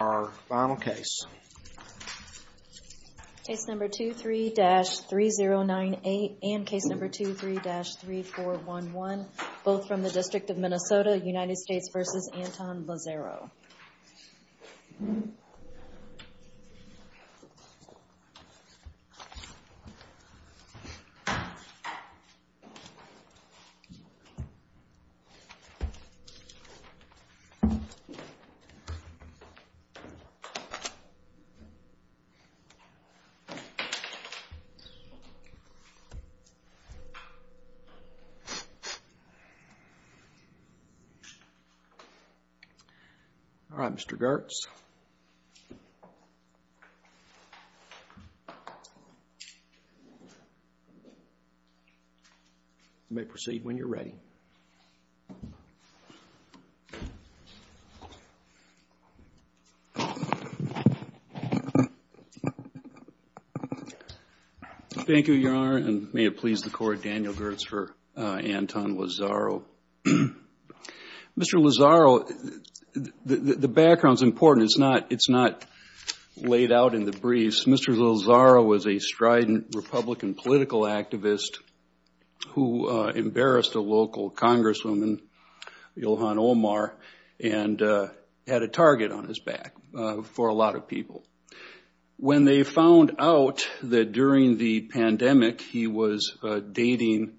Our final case. Case number 23-3098 and case number 23-3411, both from the District of Minnesota, United States v. Anton Lazzaro. Anton Lazzaro, District of Minnesota, United States v. Anton Lazzaro, District of Minnesota, United States v. Anton Lazzaro. Thank you, Your Honor, and may it please the Court, Daniel Gertz for Anton Lazzaro. Mr. Lazzaro, the background's important. It's not laid out in the briefs. Mr. Lazzaro was a strident Republican political activist who embarrassed a local congresswoman, Ilhan Omar, and had a target on his back for a lot of people. When they found out that during the pandemic he was dating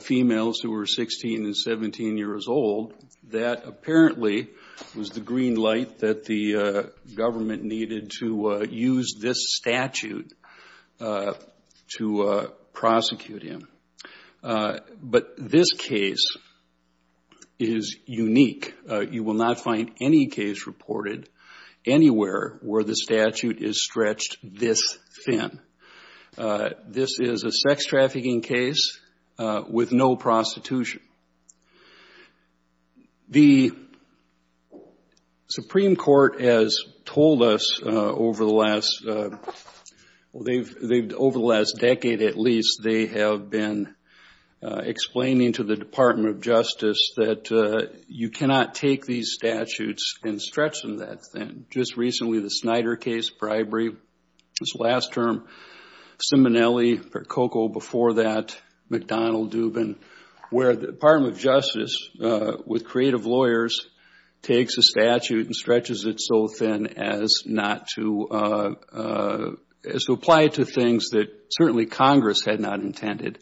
females who were 16 and 17 years old, that apparently was the green light that the government needed to use this statute to prosecute him. But this case is unique. You will not find any case reported anywhere where the statute is stretched this thin. This is a sex trafficking case with no prostitution. The Supreme Court has told us over the last decade at least, they have been explaining to the Department of Justice that you cannot take these statutes and stretch them that thin. Just recently, the Snyder case, bribery, this last term, Ciminelli, Percoco before that, McDonald-Dubin, where the Department of Justice, with creative lawyers, takes a statute and stretches it so thin as to apply it to things that certainly Congress had not intended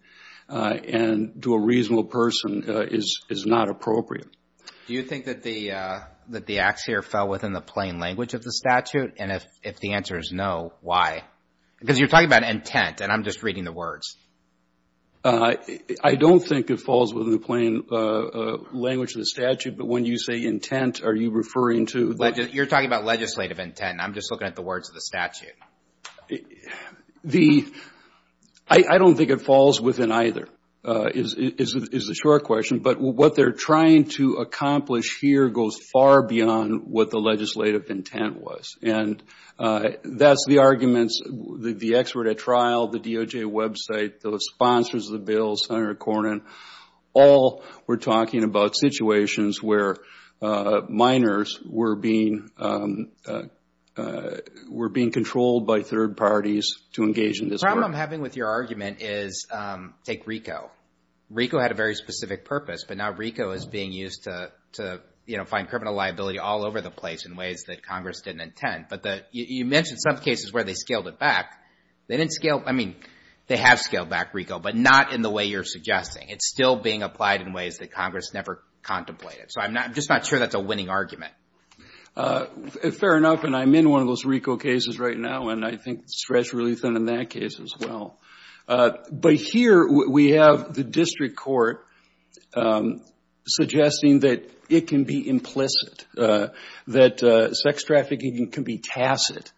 and to a reasonable person is not appropriate. Do you think that the ax here fell within the plain language of the statute? And if the answer is no, why? Because you're talking about intent, and I'm just reading the words. I don't think it falls within the plain language of the statute. But when you say intent, are you referring to – You're talking about legislative intent, and I'm just looking at the words of the statute. I don't think it falls within either, is the short question. But what they're trying to accomplish here goes far beyond what the legislative intent was. And that's the arguments, the expert at trial, the DOJ website, the sponsors of the bill, Senator Cornyn, all were talking about situations where minors were being controlled by third parties to engage in this work. The problem I'm having with your argument is take RICO. RICO had a very specific purpose, but now RICO is being used to find criminal liability all over the place in ways that Congress didn't intend. But you mentioned some cases where they scaled it back. They didn't scale – I mean, they have scaled back RICO, but not in the way you're suggesting. It's still being applied in ways that Congress never contemplated. So I'm just not sure that's a winning argument. Fair enough, and I'm in one of those RICO cases right now, and I think stretched really thin in that case as well. But here we have the district court suggesting that it can be implicit, that sex trafficking can be tacit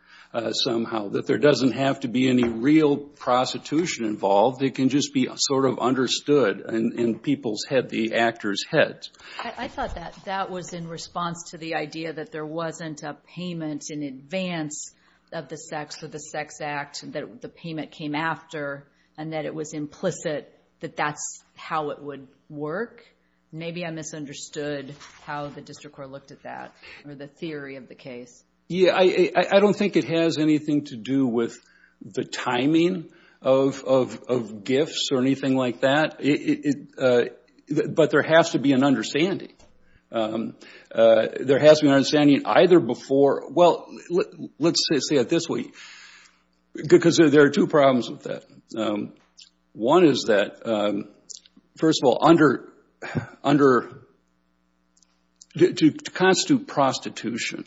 somehow, that there doesn't have to be any real prostitution involved. It can just be sort of understood in people's head, the actor's head. I thought that that was in response to the idea that there wasn't a payment in advance of the sex or the sex act that the payment came after and that it was implicit that that's how it would work. Maybe I misunderstood how the district court looked at that or the theory of the case. Yeah, I don't think it has anything to do with the timing of gifts or anything like that, but there has to be an understanding. There has to be an understanding either before – well, let's say it this way, because there are two problems with that. One is that, first of all, to constitute prostitution,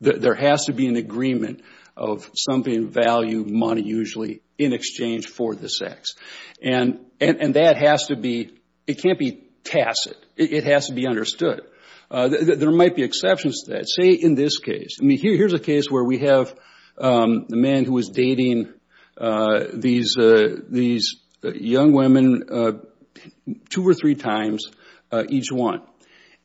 there has to be an agreement of something of value, money usually, in exchange for the sex. And that has to be – it can't be tacit. It has to be understood. There might be exceptions to that. I mean, here's a case where we have the man who was dating these young women two or three times each one.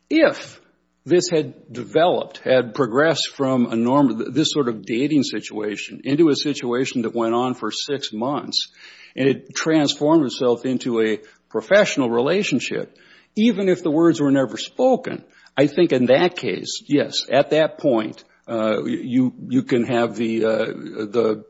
If this had developed, had progressed from this sort of dating situation into a situation that went on for six months and it transformed itself into a professional relationship, even if the words were never spoken, I think in that case, yes, at that point, you can have the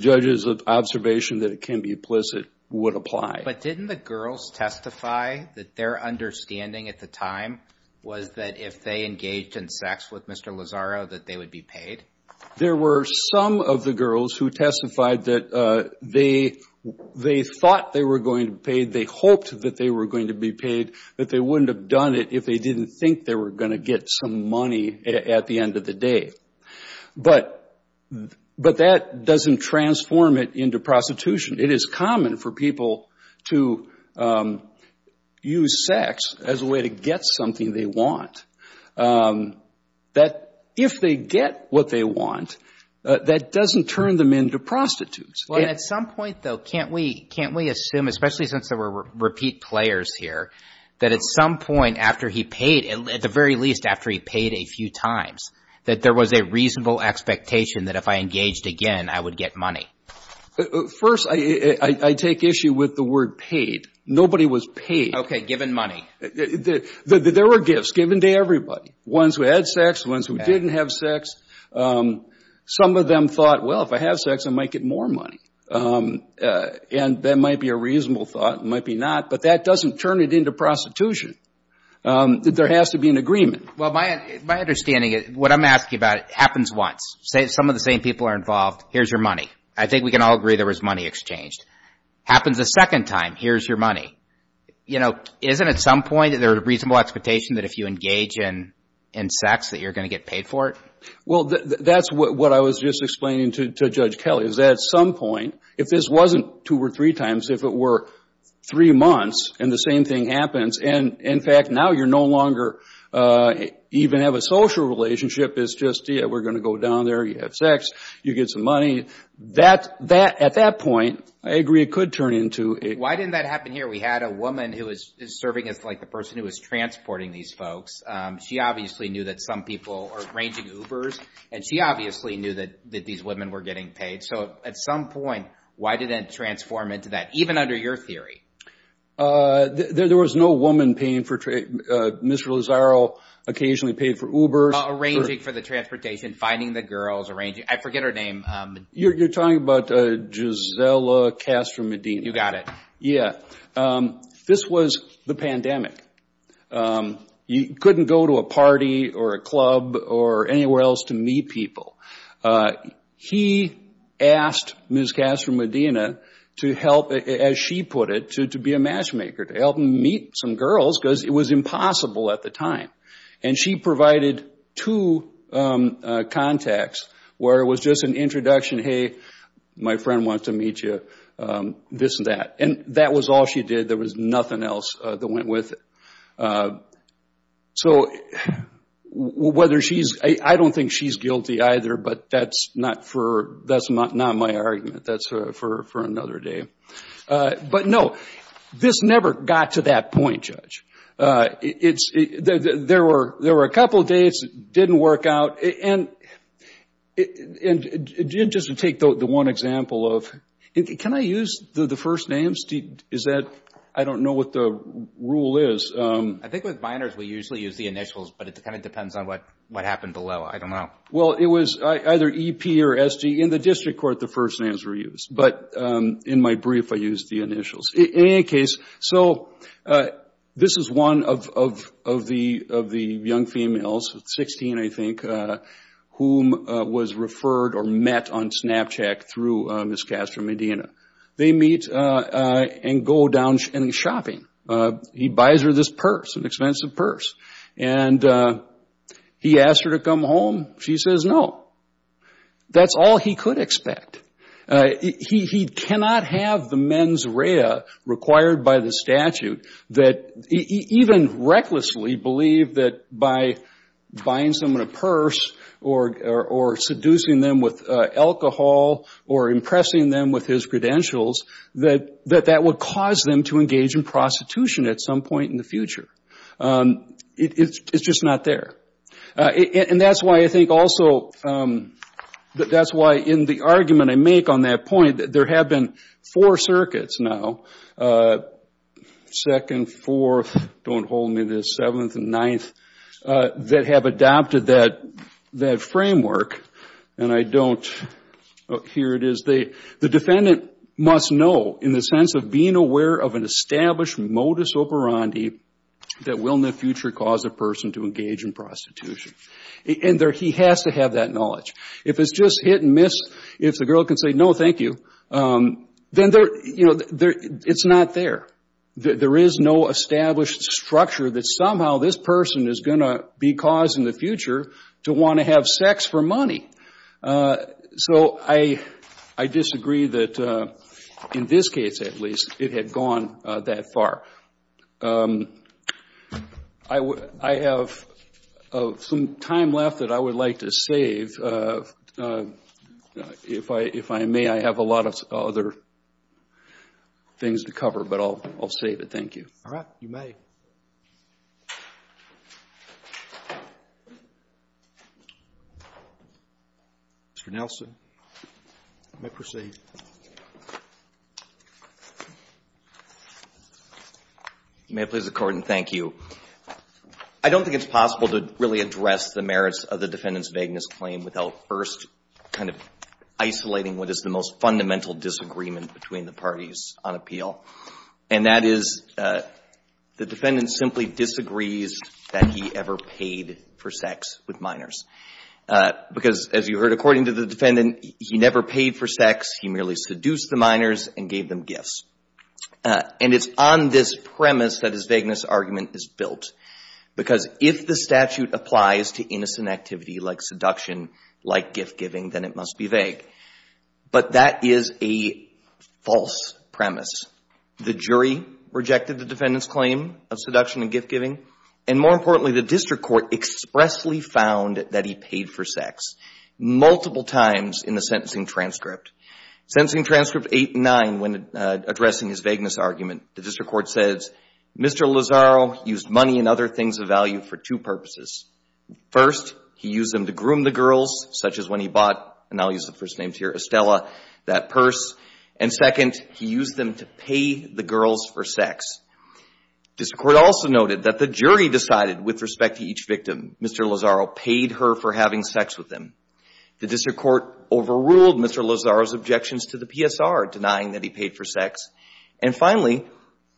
judges' observation that it can be implicit would apply. But didn't the girls testify that their understanding at the time was that if they engaged in sex with Mr. Lazzaro that they would be paid? There were some of the girls who testified that they thought they were going to be paid, they hoped that they were going to be paid, that they wouldn't have done it if they didn't think they were going to get some money at the end of the day. But that doesn't transform it into prostitution. It is common for people to use sex as a way to get something they want. That if they get what they want, that doesn't turn them into prostitutes. Well, at some point, though, can't we assume, especially since there were repeat players here, that at some point after he paid, at the very least after he paid a few times, that there was a reasonable expectation that if I engaged again, I would get money? First, I take issue with the word paid. Nobody was paid. Okay, given money. There were gifts given to everybody, ones who had sex, ones who didn't have sex. Some of them thought, well, if I have sex, I might get more money. And that might be a reasonable thought. It might be not. But that doesn't turn it into prostitution. There has to be an agreement. Well, my understanding is what I'm asking about happens once. Some of the same people are involved. Here's your money. I think we can all agree there was money exchanged. Happens a second time. Here's your money. Isn't at some point there a reasonable expectation that if you engage in sex, that you're going to get paid for it? Well, that's what I was just explaining to Judge Kelly, is that at some point, if this wasn't two or three times, if it were three months and the same thing happens, and, in fact, now you no longer even have a social relationship. It's just, yeah, we're going to go down there. You have sex. You get some money. At that point, I agree it could turn into it. Why didn't that happen here? We had a woman who is serving as, like, the person who is transporting these folks. She obviously knew that some people are arranging Ubers, and she obviously knew that these women were getting paid. So at some point, why didn't it transform into that, even under your theory? There was no woman paying for Mr. Lozaro occasionally paid for Ubers. Arranging for the transportation, finding the girls, arranging. I forget her name. You're talking about Gisela Castro Medina. You got it. Yeah. This was the pandemic. You couldn't go to a party or a club or anywhere else to meet people. He asked Ms. Castro Medina to help, as she put it, to be a matchmaker, to help him meet some girls because it was impossible at the time. And she provided two contacts where it was just an introduction, hey, my friend wants to meet you, this and that. And that was all she did. There was nothing else that went with it. So whether she's – I don't think she's guilty either, but that's not for – that's not my argument. That's for another day. But, no, this never got to that point, Judge. There were a couple of days that didn't work out. And just to take the one example of – can I use the first names? Is that – I don't know what the rule is. I think with minors, we usually use the initials, but it kind of depends on what happened below. I don't know. Well, it was either EP or SD. In the district court, the first names were used. But in my brief, I used the initials. In any case, so this is one of the young females, 16, I think, whom was referred or met on Snapchat through Ms. Castro-Medina. They meet and go down shopping. He buys her this purse, an expensive purse. And he asks her to come home. She says no. That's all he could expect. He cannot have the mens rea required by the statute that – even recklessly believe that by buying someone a purse or seducing them with alcohol or impressing them with his credentials, that that would cause them to engage in prostitution at some point in the future. It's just not there. And that's why I think also – that's why in the argument I make on that point, there have been four circuits now, second, fourth, don't hold me to this, seventh and ninth, that have adopted that framework. And I don't – here it is. The defendant must know in the sense of being aware of an established modus operandi that will in the future cause a person to engage in prostitution. And he has to have that knowledge. If it's just hit and miss, if the girl can say no, thank you, then it's not there. There is no established structure that somehow this person is going to be causing the future to want to have sex for money. So I disagree that in this case, at least, it had gone that far. I have some time left that I would like to save. If I may, I have a lot of other things to cover, but I'll save it. Thank you. All right. You may. Mr. Nelson, you may proceed. May it please the Court, and thank you. I don't think it's possible to really address the merits of the defendant's vagueness claim without first kind of isolating what is the most fundamental disagreement between the parties on appeal. And that is the defendant simply disagrees that he ever paid for sex with minors. Because, as you heard, according to the defendant, he never paid for sex. He merely seduced the minors and gave them gifts. And it's on this premise that his vagueness argument is built, because if the statute applies to innocent activity like seduction, like gift-giving, then it must be vague. But that is a false premise. The jury rejected the defendant's claim of seduction and gift-giving. And more importantly, the district court expressly found that he paid for sex, multiple times in the sentencing transcript. Sentencing transcript 8 and 9, when addressing his vagueness argument, the district court says, Mr. Lozaro used money and other things of value for two purposes. First, he used them to groom the girls, such as when he bought, and I'll use the first names here, Estella, that purse. And second, he used them to pay the girls for sex. The district court also noted that the jury decided, with respect to each victim, Mr. Lozaro paid her for having sex with him. The district court overruled Mr. Lozaro's objections to the PSR, denying that he paid for sex. And finally,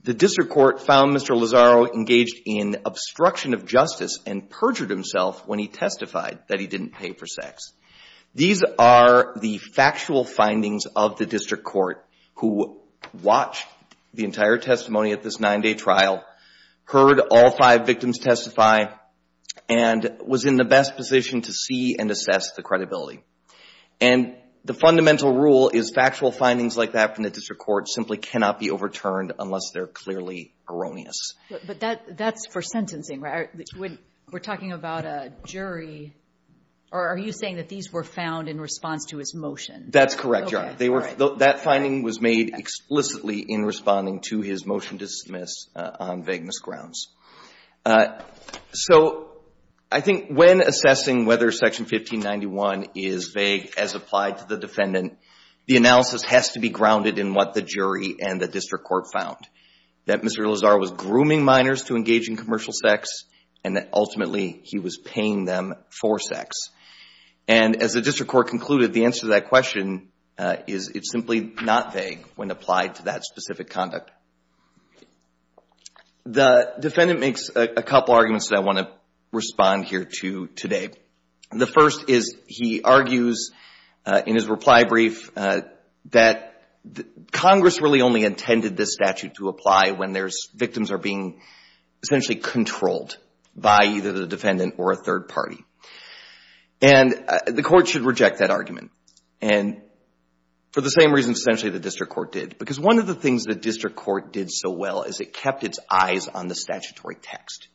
the district court found Mr. Lozaro engaged in obstruction of justice and perjured himself when he testified that he didn't pay for sex. These are the factual findings of the district court who watched the entire testimony at this 9-day trial, heard all five victims testify, and was in the best position to see and assess the credibility. And the fundamental rule is factual findings like that from the district court simply cannot be overturned unless they're clearly erroneous. But that's for sentencing, right? We're talking about a jury, or are you saying that these were found in response to his motion? That's correct, Your Honor. That finding was made explicitly in responding to his motion to dismiss on vagueness grounds. So I think when assessing whether Section 1591 is vague as applied to the defendant, the analysis has to be grounded in what the jury and the district court found, that Mr. Lozaro was grooming minors to engage in commercial sex, and that ultimately he was paying them for sex. And as the district court concluded, the answer to that question is it's simply not vague when applied to that specific conduct. The defendant makes a couple arguments that I want to respond here to today. The first is he argues in his reply brief that Congress really only intended this because victims are being essentially controlled by either the defendant or a third party. And the court should reject that argument, and for the same reason essentially the district court did. Because one of the things the district court did so well is it kept its eyes on the statutory text.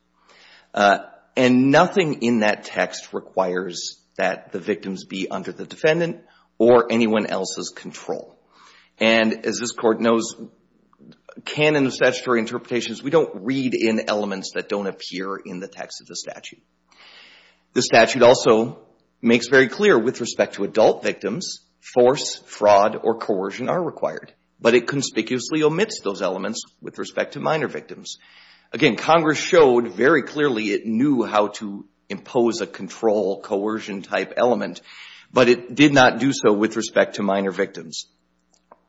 And nothing in that text requires that the victims be under the defendant or anyone else's control. And as this Court knows, canon of statutory interpretations, we don't read in elements that don't appear in the text of the statute. The statute also makes very clear with respect to adult victims, force, fraud, or coercion are required. But it conspicuously omits those elements with respect to minor victims. Again, Congress showed very clearly it knew how to impose a control, coercion-type element, but it did not do so with respect to minor victims.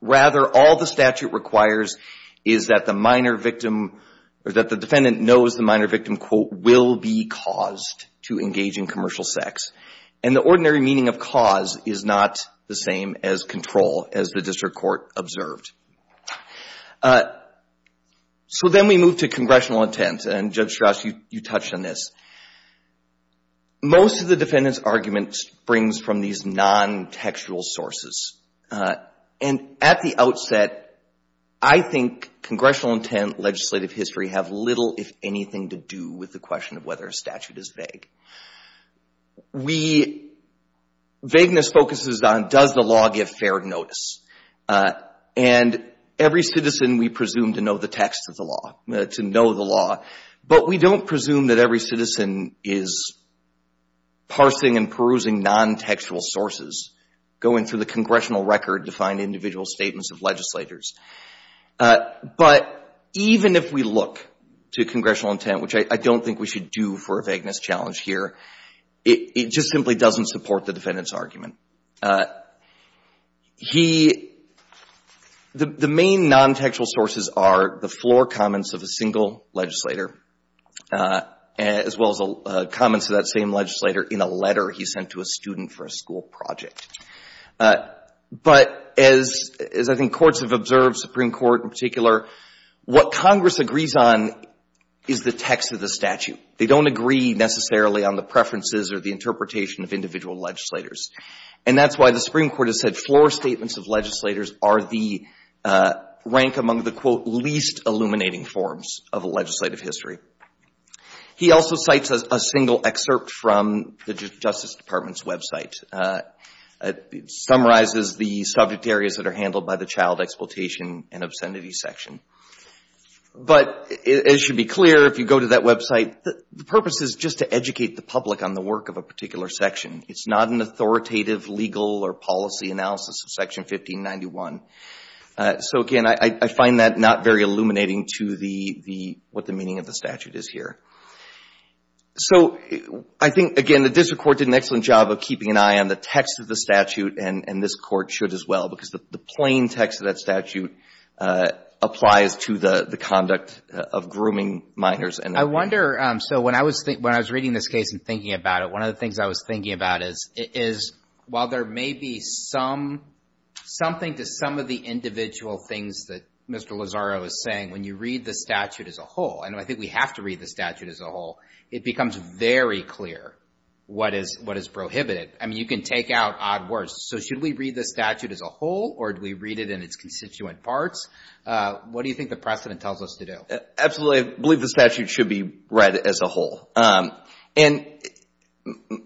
Rather, all the statute requires is that the minor victim, or that the defendant knows the minor victim, quote, will be caused to engage in commercial sex. And the ordinary meaning of cause is not the same as control, as the district court observed. So then we move to congressional intent, and Judge Strauss, you touched on this. Most of the defendant's argument springs from these non-textual sources. And at the outset, I think congressional intent, legislative history have little, if anything, to do with the question of whether a statute is vague. We – vagueness focuses on does the law give fair notice. And every citizen we presume to know the text of the law, to know the law, but we don't presume that every citizen is parsing and perusing non-textual sources, going through the congressional record to find individual statements of legislators. But even if we look to congressional intent, which I don't think we should do for a vagueness challenge here, it just simply doesn't support the defendant's argument. He – the main non-textual sources are the floor comments of a single legislator, as well as the comments of that same legislator in a letter he sent to a student for a school project. But as I think courts have observed, Supreme Court in particular, what Congress agrees on is the text of the statute. They don't agree necessarily on the preferences or the interpretation of individual legislators. And that's why the Supreme Court has said floor statements of legislators are the – rank among the, quote, least illuminating forms of legislative history. He also cites a single excerpt from the Justice Department's website. It summarizes the subject areas that are handled by the child exploitation and obscenity section. But it should be clear, if you go to that website, the purpose is just to educate the public on the work of a particular section. It's not an authoritative legal or policy analysis of Section 1591. So, again, I find that not very illuminating to the – what the meaning of the statute is here. So I think, again, the district court did an excellent job of keeping an eye on the text of the statute, and this Court should as well, because the plain text of that statute applies to the conduct of grooming minors. And I wonder, so when I was reading this case and thinking about it, one of the things I was thinking about is, while there may be some – something to some of the individual things that Mr. Lozaro is saying, when you read the statute as a whole – and I think we have to read the statute as a whole – it becomes very clear what is prohibited. I mean, you can take out odd words. So should we read the statute as a whole, or do we read it in its constituent parts? What do you think the precedent tells us to do? Absolutely. I believe the statute should be read as a whole. And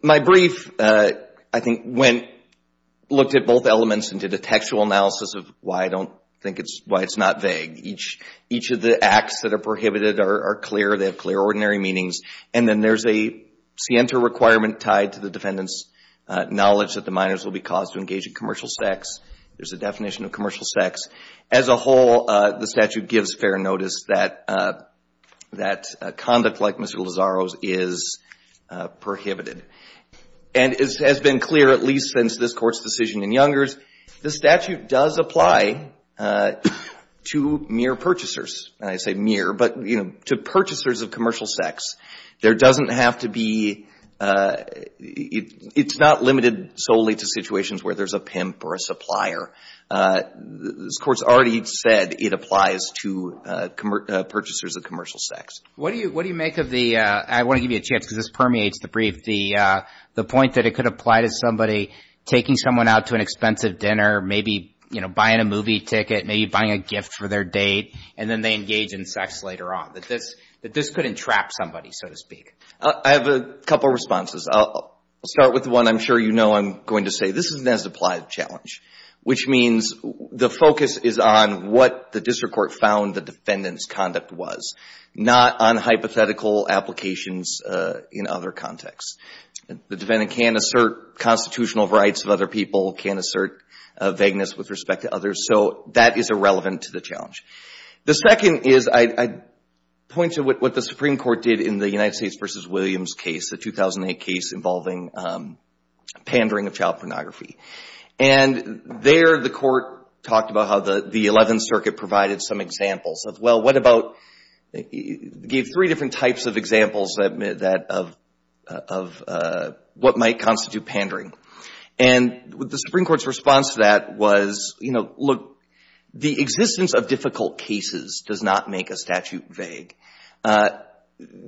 my brief, I think, went – looked at both elements and did a textual analysis of why I don't think it's – why it's not vague. Each of the acts that are prohibited are clear. They have clear ordinary meanings. And then there's a scienter requirement tied to the defendant's knowledge that the minors will be caused to engage in commercial sex. There's a definition of commercial sex. As a whole, the statute gives fair notice that – that conduct like Mr. Lozaro's is prohibited. And it has been clear, at least since this Court's decision in Youngers, the statute does apply to mere purchasers. And I say mere, but, you know, to purchasers of commercial sex. There doesn't have to be – it's not limited solely to situations where there's a pimp or a supplier. This Court's already said it applies to purchasers of commercial sex. What do you – what do you make of the – I want to give you a chance, because this permeates the brief – the point that it could apply to somebody taking someone out to an expensive dinner, maybe, you know, buying a movie ticket, maybe buying a gift for their date, and then they engage in sex later on. That this – that this could entrap somebody, so to speak. I have a couple of responses. I'll start with the one I'm sure you know I'm going to say. This is an as-implied challenge, which means the focus is on what the District Court found the defendant's conduct was, not on hypothetical applications in other contexts. The defendant can assert constitutional rights of other people, can assert vagueness with respect to others. So that is irrelevant to the challenge. The second is I'd point to what the Supreme Court did in the United States v. Williams case, the 2008 case involving pandering of child pornography. And there the Court talked about how the Eleventh Circuit provided some examples of, well, what about – gave three different types of examples that – of what might constitute pandering. And the Supreme Court's response to that was, you know, look, the existence of difficult cases does not make a statute vague.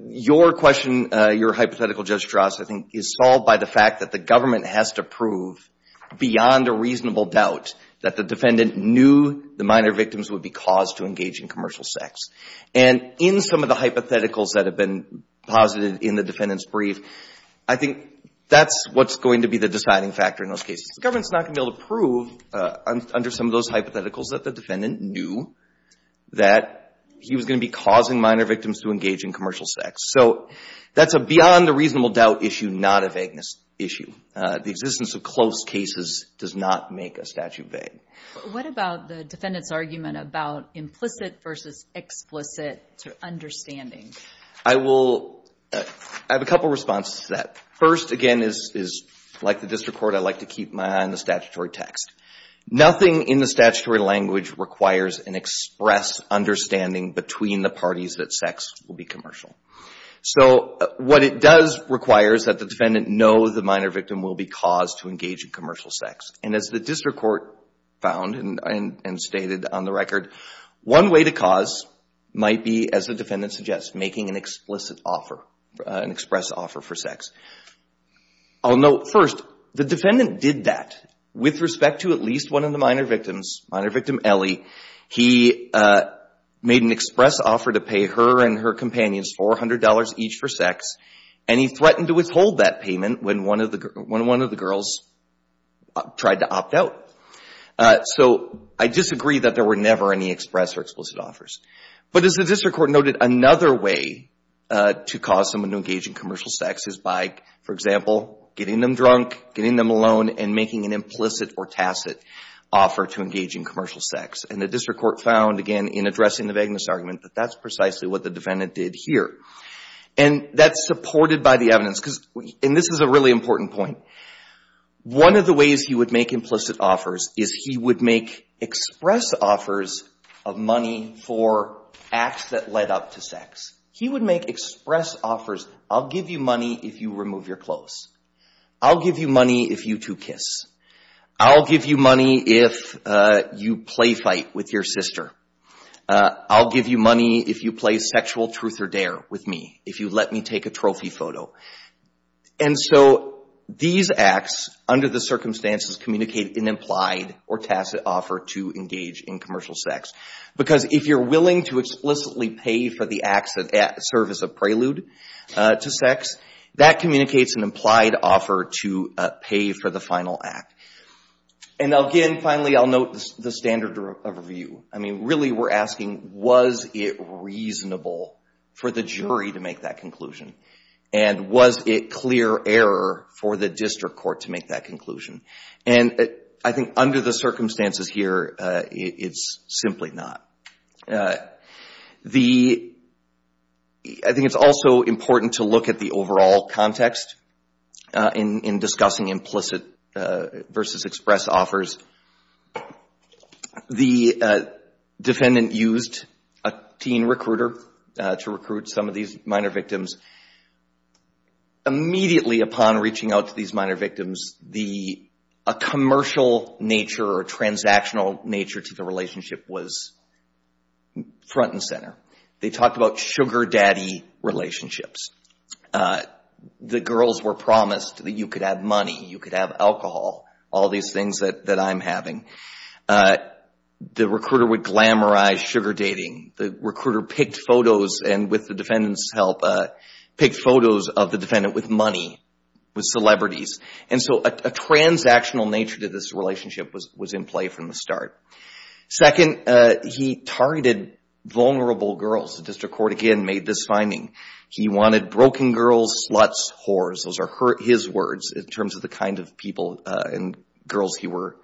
Your question, your hypothetical, Judge Strauss, I think is solved by the fact that the government has to prove beyond a reasonable doubt that the defendant knew the minor victims would be caused to engage in commercial sex. And in some of the hypotheticals that have been posited in the defendant's brief, I think that's what's going to be the deciding factor in those cases. The government's not going to be able to prove under some of those hypotheticals that the defendant knew that he was going to be causing minor victims to engage in commercial sex. So that's a beyond a reasonable doubt issue, not a vagueness issue. The existence of close cases does not make a statute vague. What about the defendant's argument about implicit versus explicit to understanding? I will – I have a couple responses to that. First, again, is like the district court, I like to keep my eye on the statutory text. Nothing in the statutory language requires an express understanding between the parties that sex will be commercial. So what it does require is that the defendant know the minor victim will be caused to engage in commercial sex. And as the district court found and stated on the record, one way to cause might be, as the defendant suggests, making an explicit offer, an express offer for sex. I'll note first, the defendant did that with respect to at least one of the minor victims, minor victim Ellie. He made an express offer to pay her and her companions $400 each for sex. And he threatened to withhold that payment when one of the girls tried to opt out. So I disagree that there were never any express or explicit offers. But as the district court noted, another way to cause someone to engage in commercial sex is by, for example, getting them drunk, getting them alone, and making an implicit or tacit offer to engage in commercial sex. And the district court found, again, in addressing the vagueness argument, that that's precisely what the defendant did here. And that's supported by the evidence. And this is a really important point. One of the ways he would make implicit offers is he would make express offers of money for acts that led up to sex. He would make express offers. I'll give you money if you remove your clothes. I'll give you money if you two kiss. I'll give you money if you play fight with your sister. I'll give you money if you play sexual truth or dare with me, if you let me take a trophy photo. And so these acts, under the circumstances, communicate an implied or tacit offer to engage in commercial sex. Because if you're willing to explicitly pay for the acts that serve as a prelude to sex, that communicates an implied offer to pay for the final act. And again, finally, I'll note the standard of review. I mean, really we're asking, was it reasonable for the jury to make that conclusion? And was it clear error for the district court to make that conclusion? And I think under the circumstances here, it's simply not. I think it's also important to look at the overall context in discussing implicit versus express offers. The defendant used a teen recruiter to recruit some of these minor victims. Immediately upon reaching out to these minor victims, a commercial nature or transactional nature to the relationship was front and center. They talked about sugar daddy relationships. The girls were promised that you could have money, you could have alcohol, all these things that I'm having. The recruiter would glamorize sugar dating. The recruiter picked photos, and with the defendant's help, picked photos of the defendant with money, with celebrities. And so a transactional nature to this relationship was in play from the start. Second, he targeted vulnerable girls. The district court, again, made this finding. He wanted broken girls, sluts, whores. Those are his words in terms of the kind of people and girls he was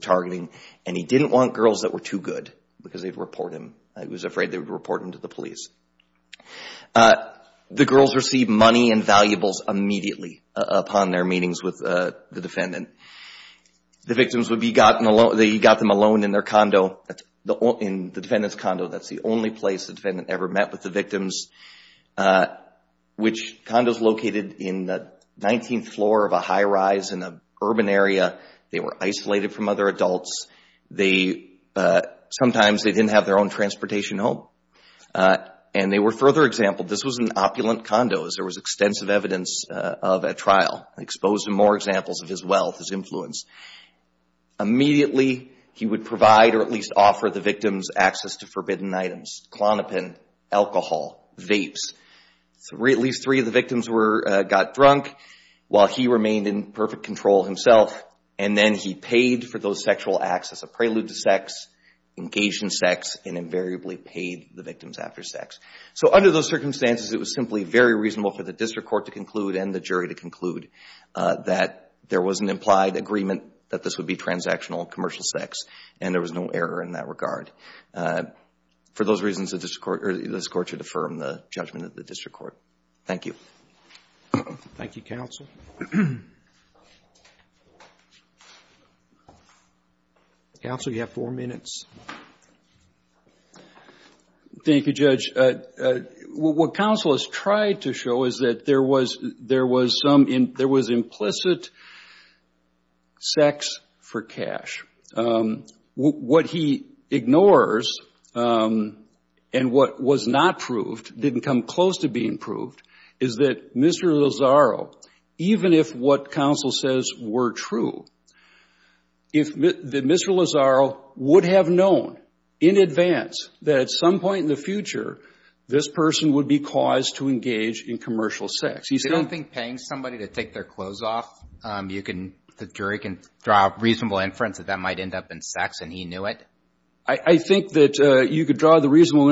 targeting. And he didn't want girls that were too good because they'd report him. He was afraid they would report him to the police. The girls received money and valuables immediately upon their meetings with the defendant. The victims would be gotten alone. He got them alone in their condo, in the defendant's condo. That's the only place the defendant ever met with the victims, which condo is located in the 19th floor of a high rise in an urban area. They were isolated from other adults. Sometimes they didn't have their own transportation home. And they were further exampled. This was an opulent condo, as there was extensive evidence of at trial. It exposed more examples of his wealth, his influence. Immediately, he would provide or at least offer the victims access to forbidden items, Klonopin, alcohol, vapes. At least three of the victims got drunk while he remained in perfect control himself. And then he paid for those sexual acts as a prelude to sex, engaged in sex, and invariably paid the victims after sex. So under those circumstances, it was simply very reasonable for the district court to conclude and the jury to conclude that there was an implied agreement that this would be transactional commercial sex, and there was no error in that regard. For those reasons, this Court should affirm the judgment of the district court. Thank you. Thank you, Counsel. Counsel, you have four minutes. Thank you, Judge. What Counsel has tried to show is that there was implicit sex for cash. What he ignores and what was not proved, didn't come close to being proved, is that Mr. Lozaro, even if what Counsel says were true, if Mr. Lozaro would have known in advance that at some point in the future, this person would be caused to engage in commercial sex. They don't think paying somebody to take their clothes off, the jury can draw a reasonable inference that that might end up in sex and he knew it? I think that you could draw the reasonable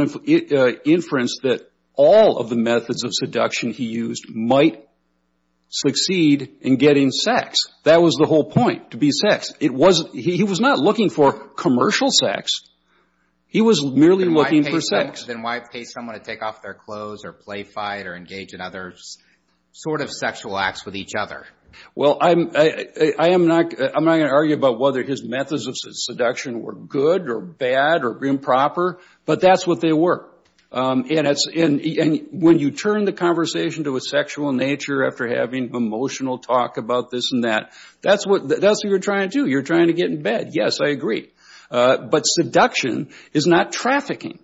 inference that all of the methods of seduction he used might succeed in getting sex. That was the whole point, to be sex. He was not looking for commercial sex. He was merely looking for sex. Then why pay someone to take off their clothes or play fight or engage in other sort of sexual acts with each other? Well, I'm not going to argue about whether his methods of seduction were good or bad or improper, but that's what they were. And when you turn the conversation to a sexual nature after having emotional talk about this and that, that's what you're trying to do. You're trying to get in bed. Yes, I agree. But seduction is not trafficking.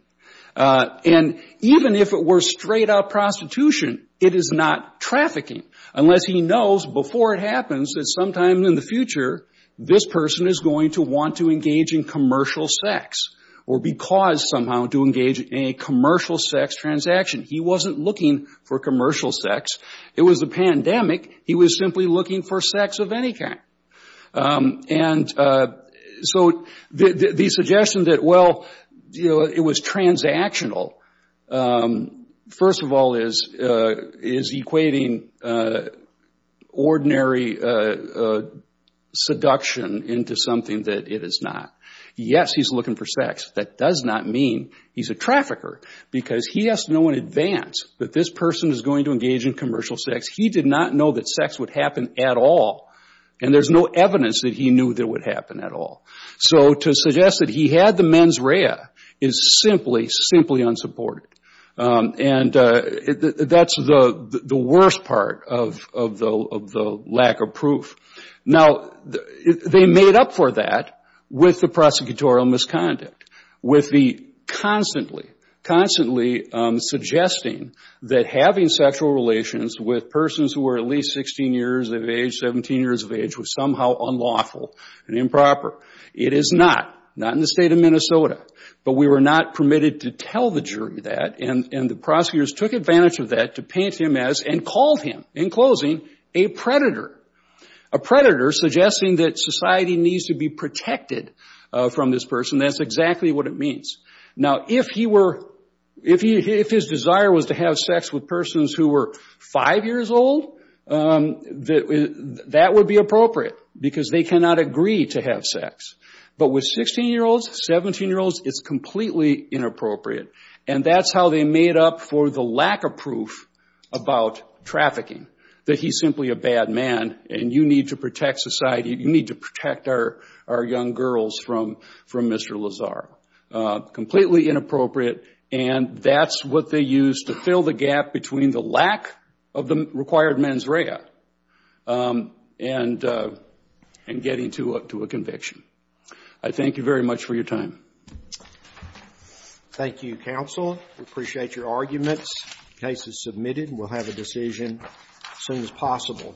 And even if it were straight-up prostitution, it is not trafficking unless he knows before it happens that sometime in the future this person is going to want to engage in commercial sex or be caused somehow to engage in a commercial sex transaction. He wasn't looking for commercial sex. It was a pandemic. He was simply looking for sex of any kind. And so the suggestion that, well, it was transactional, first of all, is equating ordinary seduction into something that it is not. Yes, he's looking for sex. That does not mean he's a trafficker because he has to know in advance that this person is going to engage in commercial sex. He did not know that sex would happen at all. And there's no evidence that he knew that it would happen at all. So to suggest that he had the mens rea is simply, simply unsupported. And that's the worst part of the lack of proof. Now, they made up for that with the prosecutorial misconduct, with the constantly, constantly suggesting that having sexual relations with persons who were at least 16 years of age, 17 years of age, was somehow unlawful and improper. It is not, not in the state of Minnesota. But we were not permitted to tell the jury that. And the prosecutors took advantage of that to paint him as, and called him, in closing, a predator, a predator suggesting that society needs to be protected from this person. That's exactly what it means. Now, if he were, if his desire was to have sex with persons who were five years old, that would be appropriate because they cannot agree to have sex. But with 16-year-olds, 17-year-olds, it's completely inappropriate. And that's how they made up for the lack of proof about trafficking, that he's simply a bad man and you need to protect society, you need to protect our young girls from Mr. Lazaro. Completely inappropriate. And that's what they used to fill the gap between the lack of the required mens rea and getting to a conviction. I thank you very much for your time. Thank you, counsel. We appreciate your arguments. The case is submitted and we'll have a decision as soon as possible.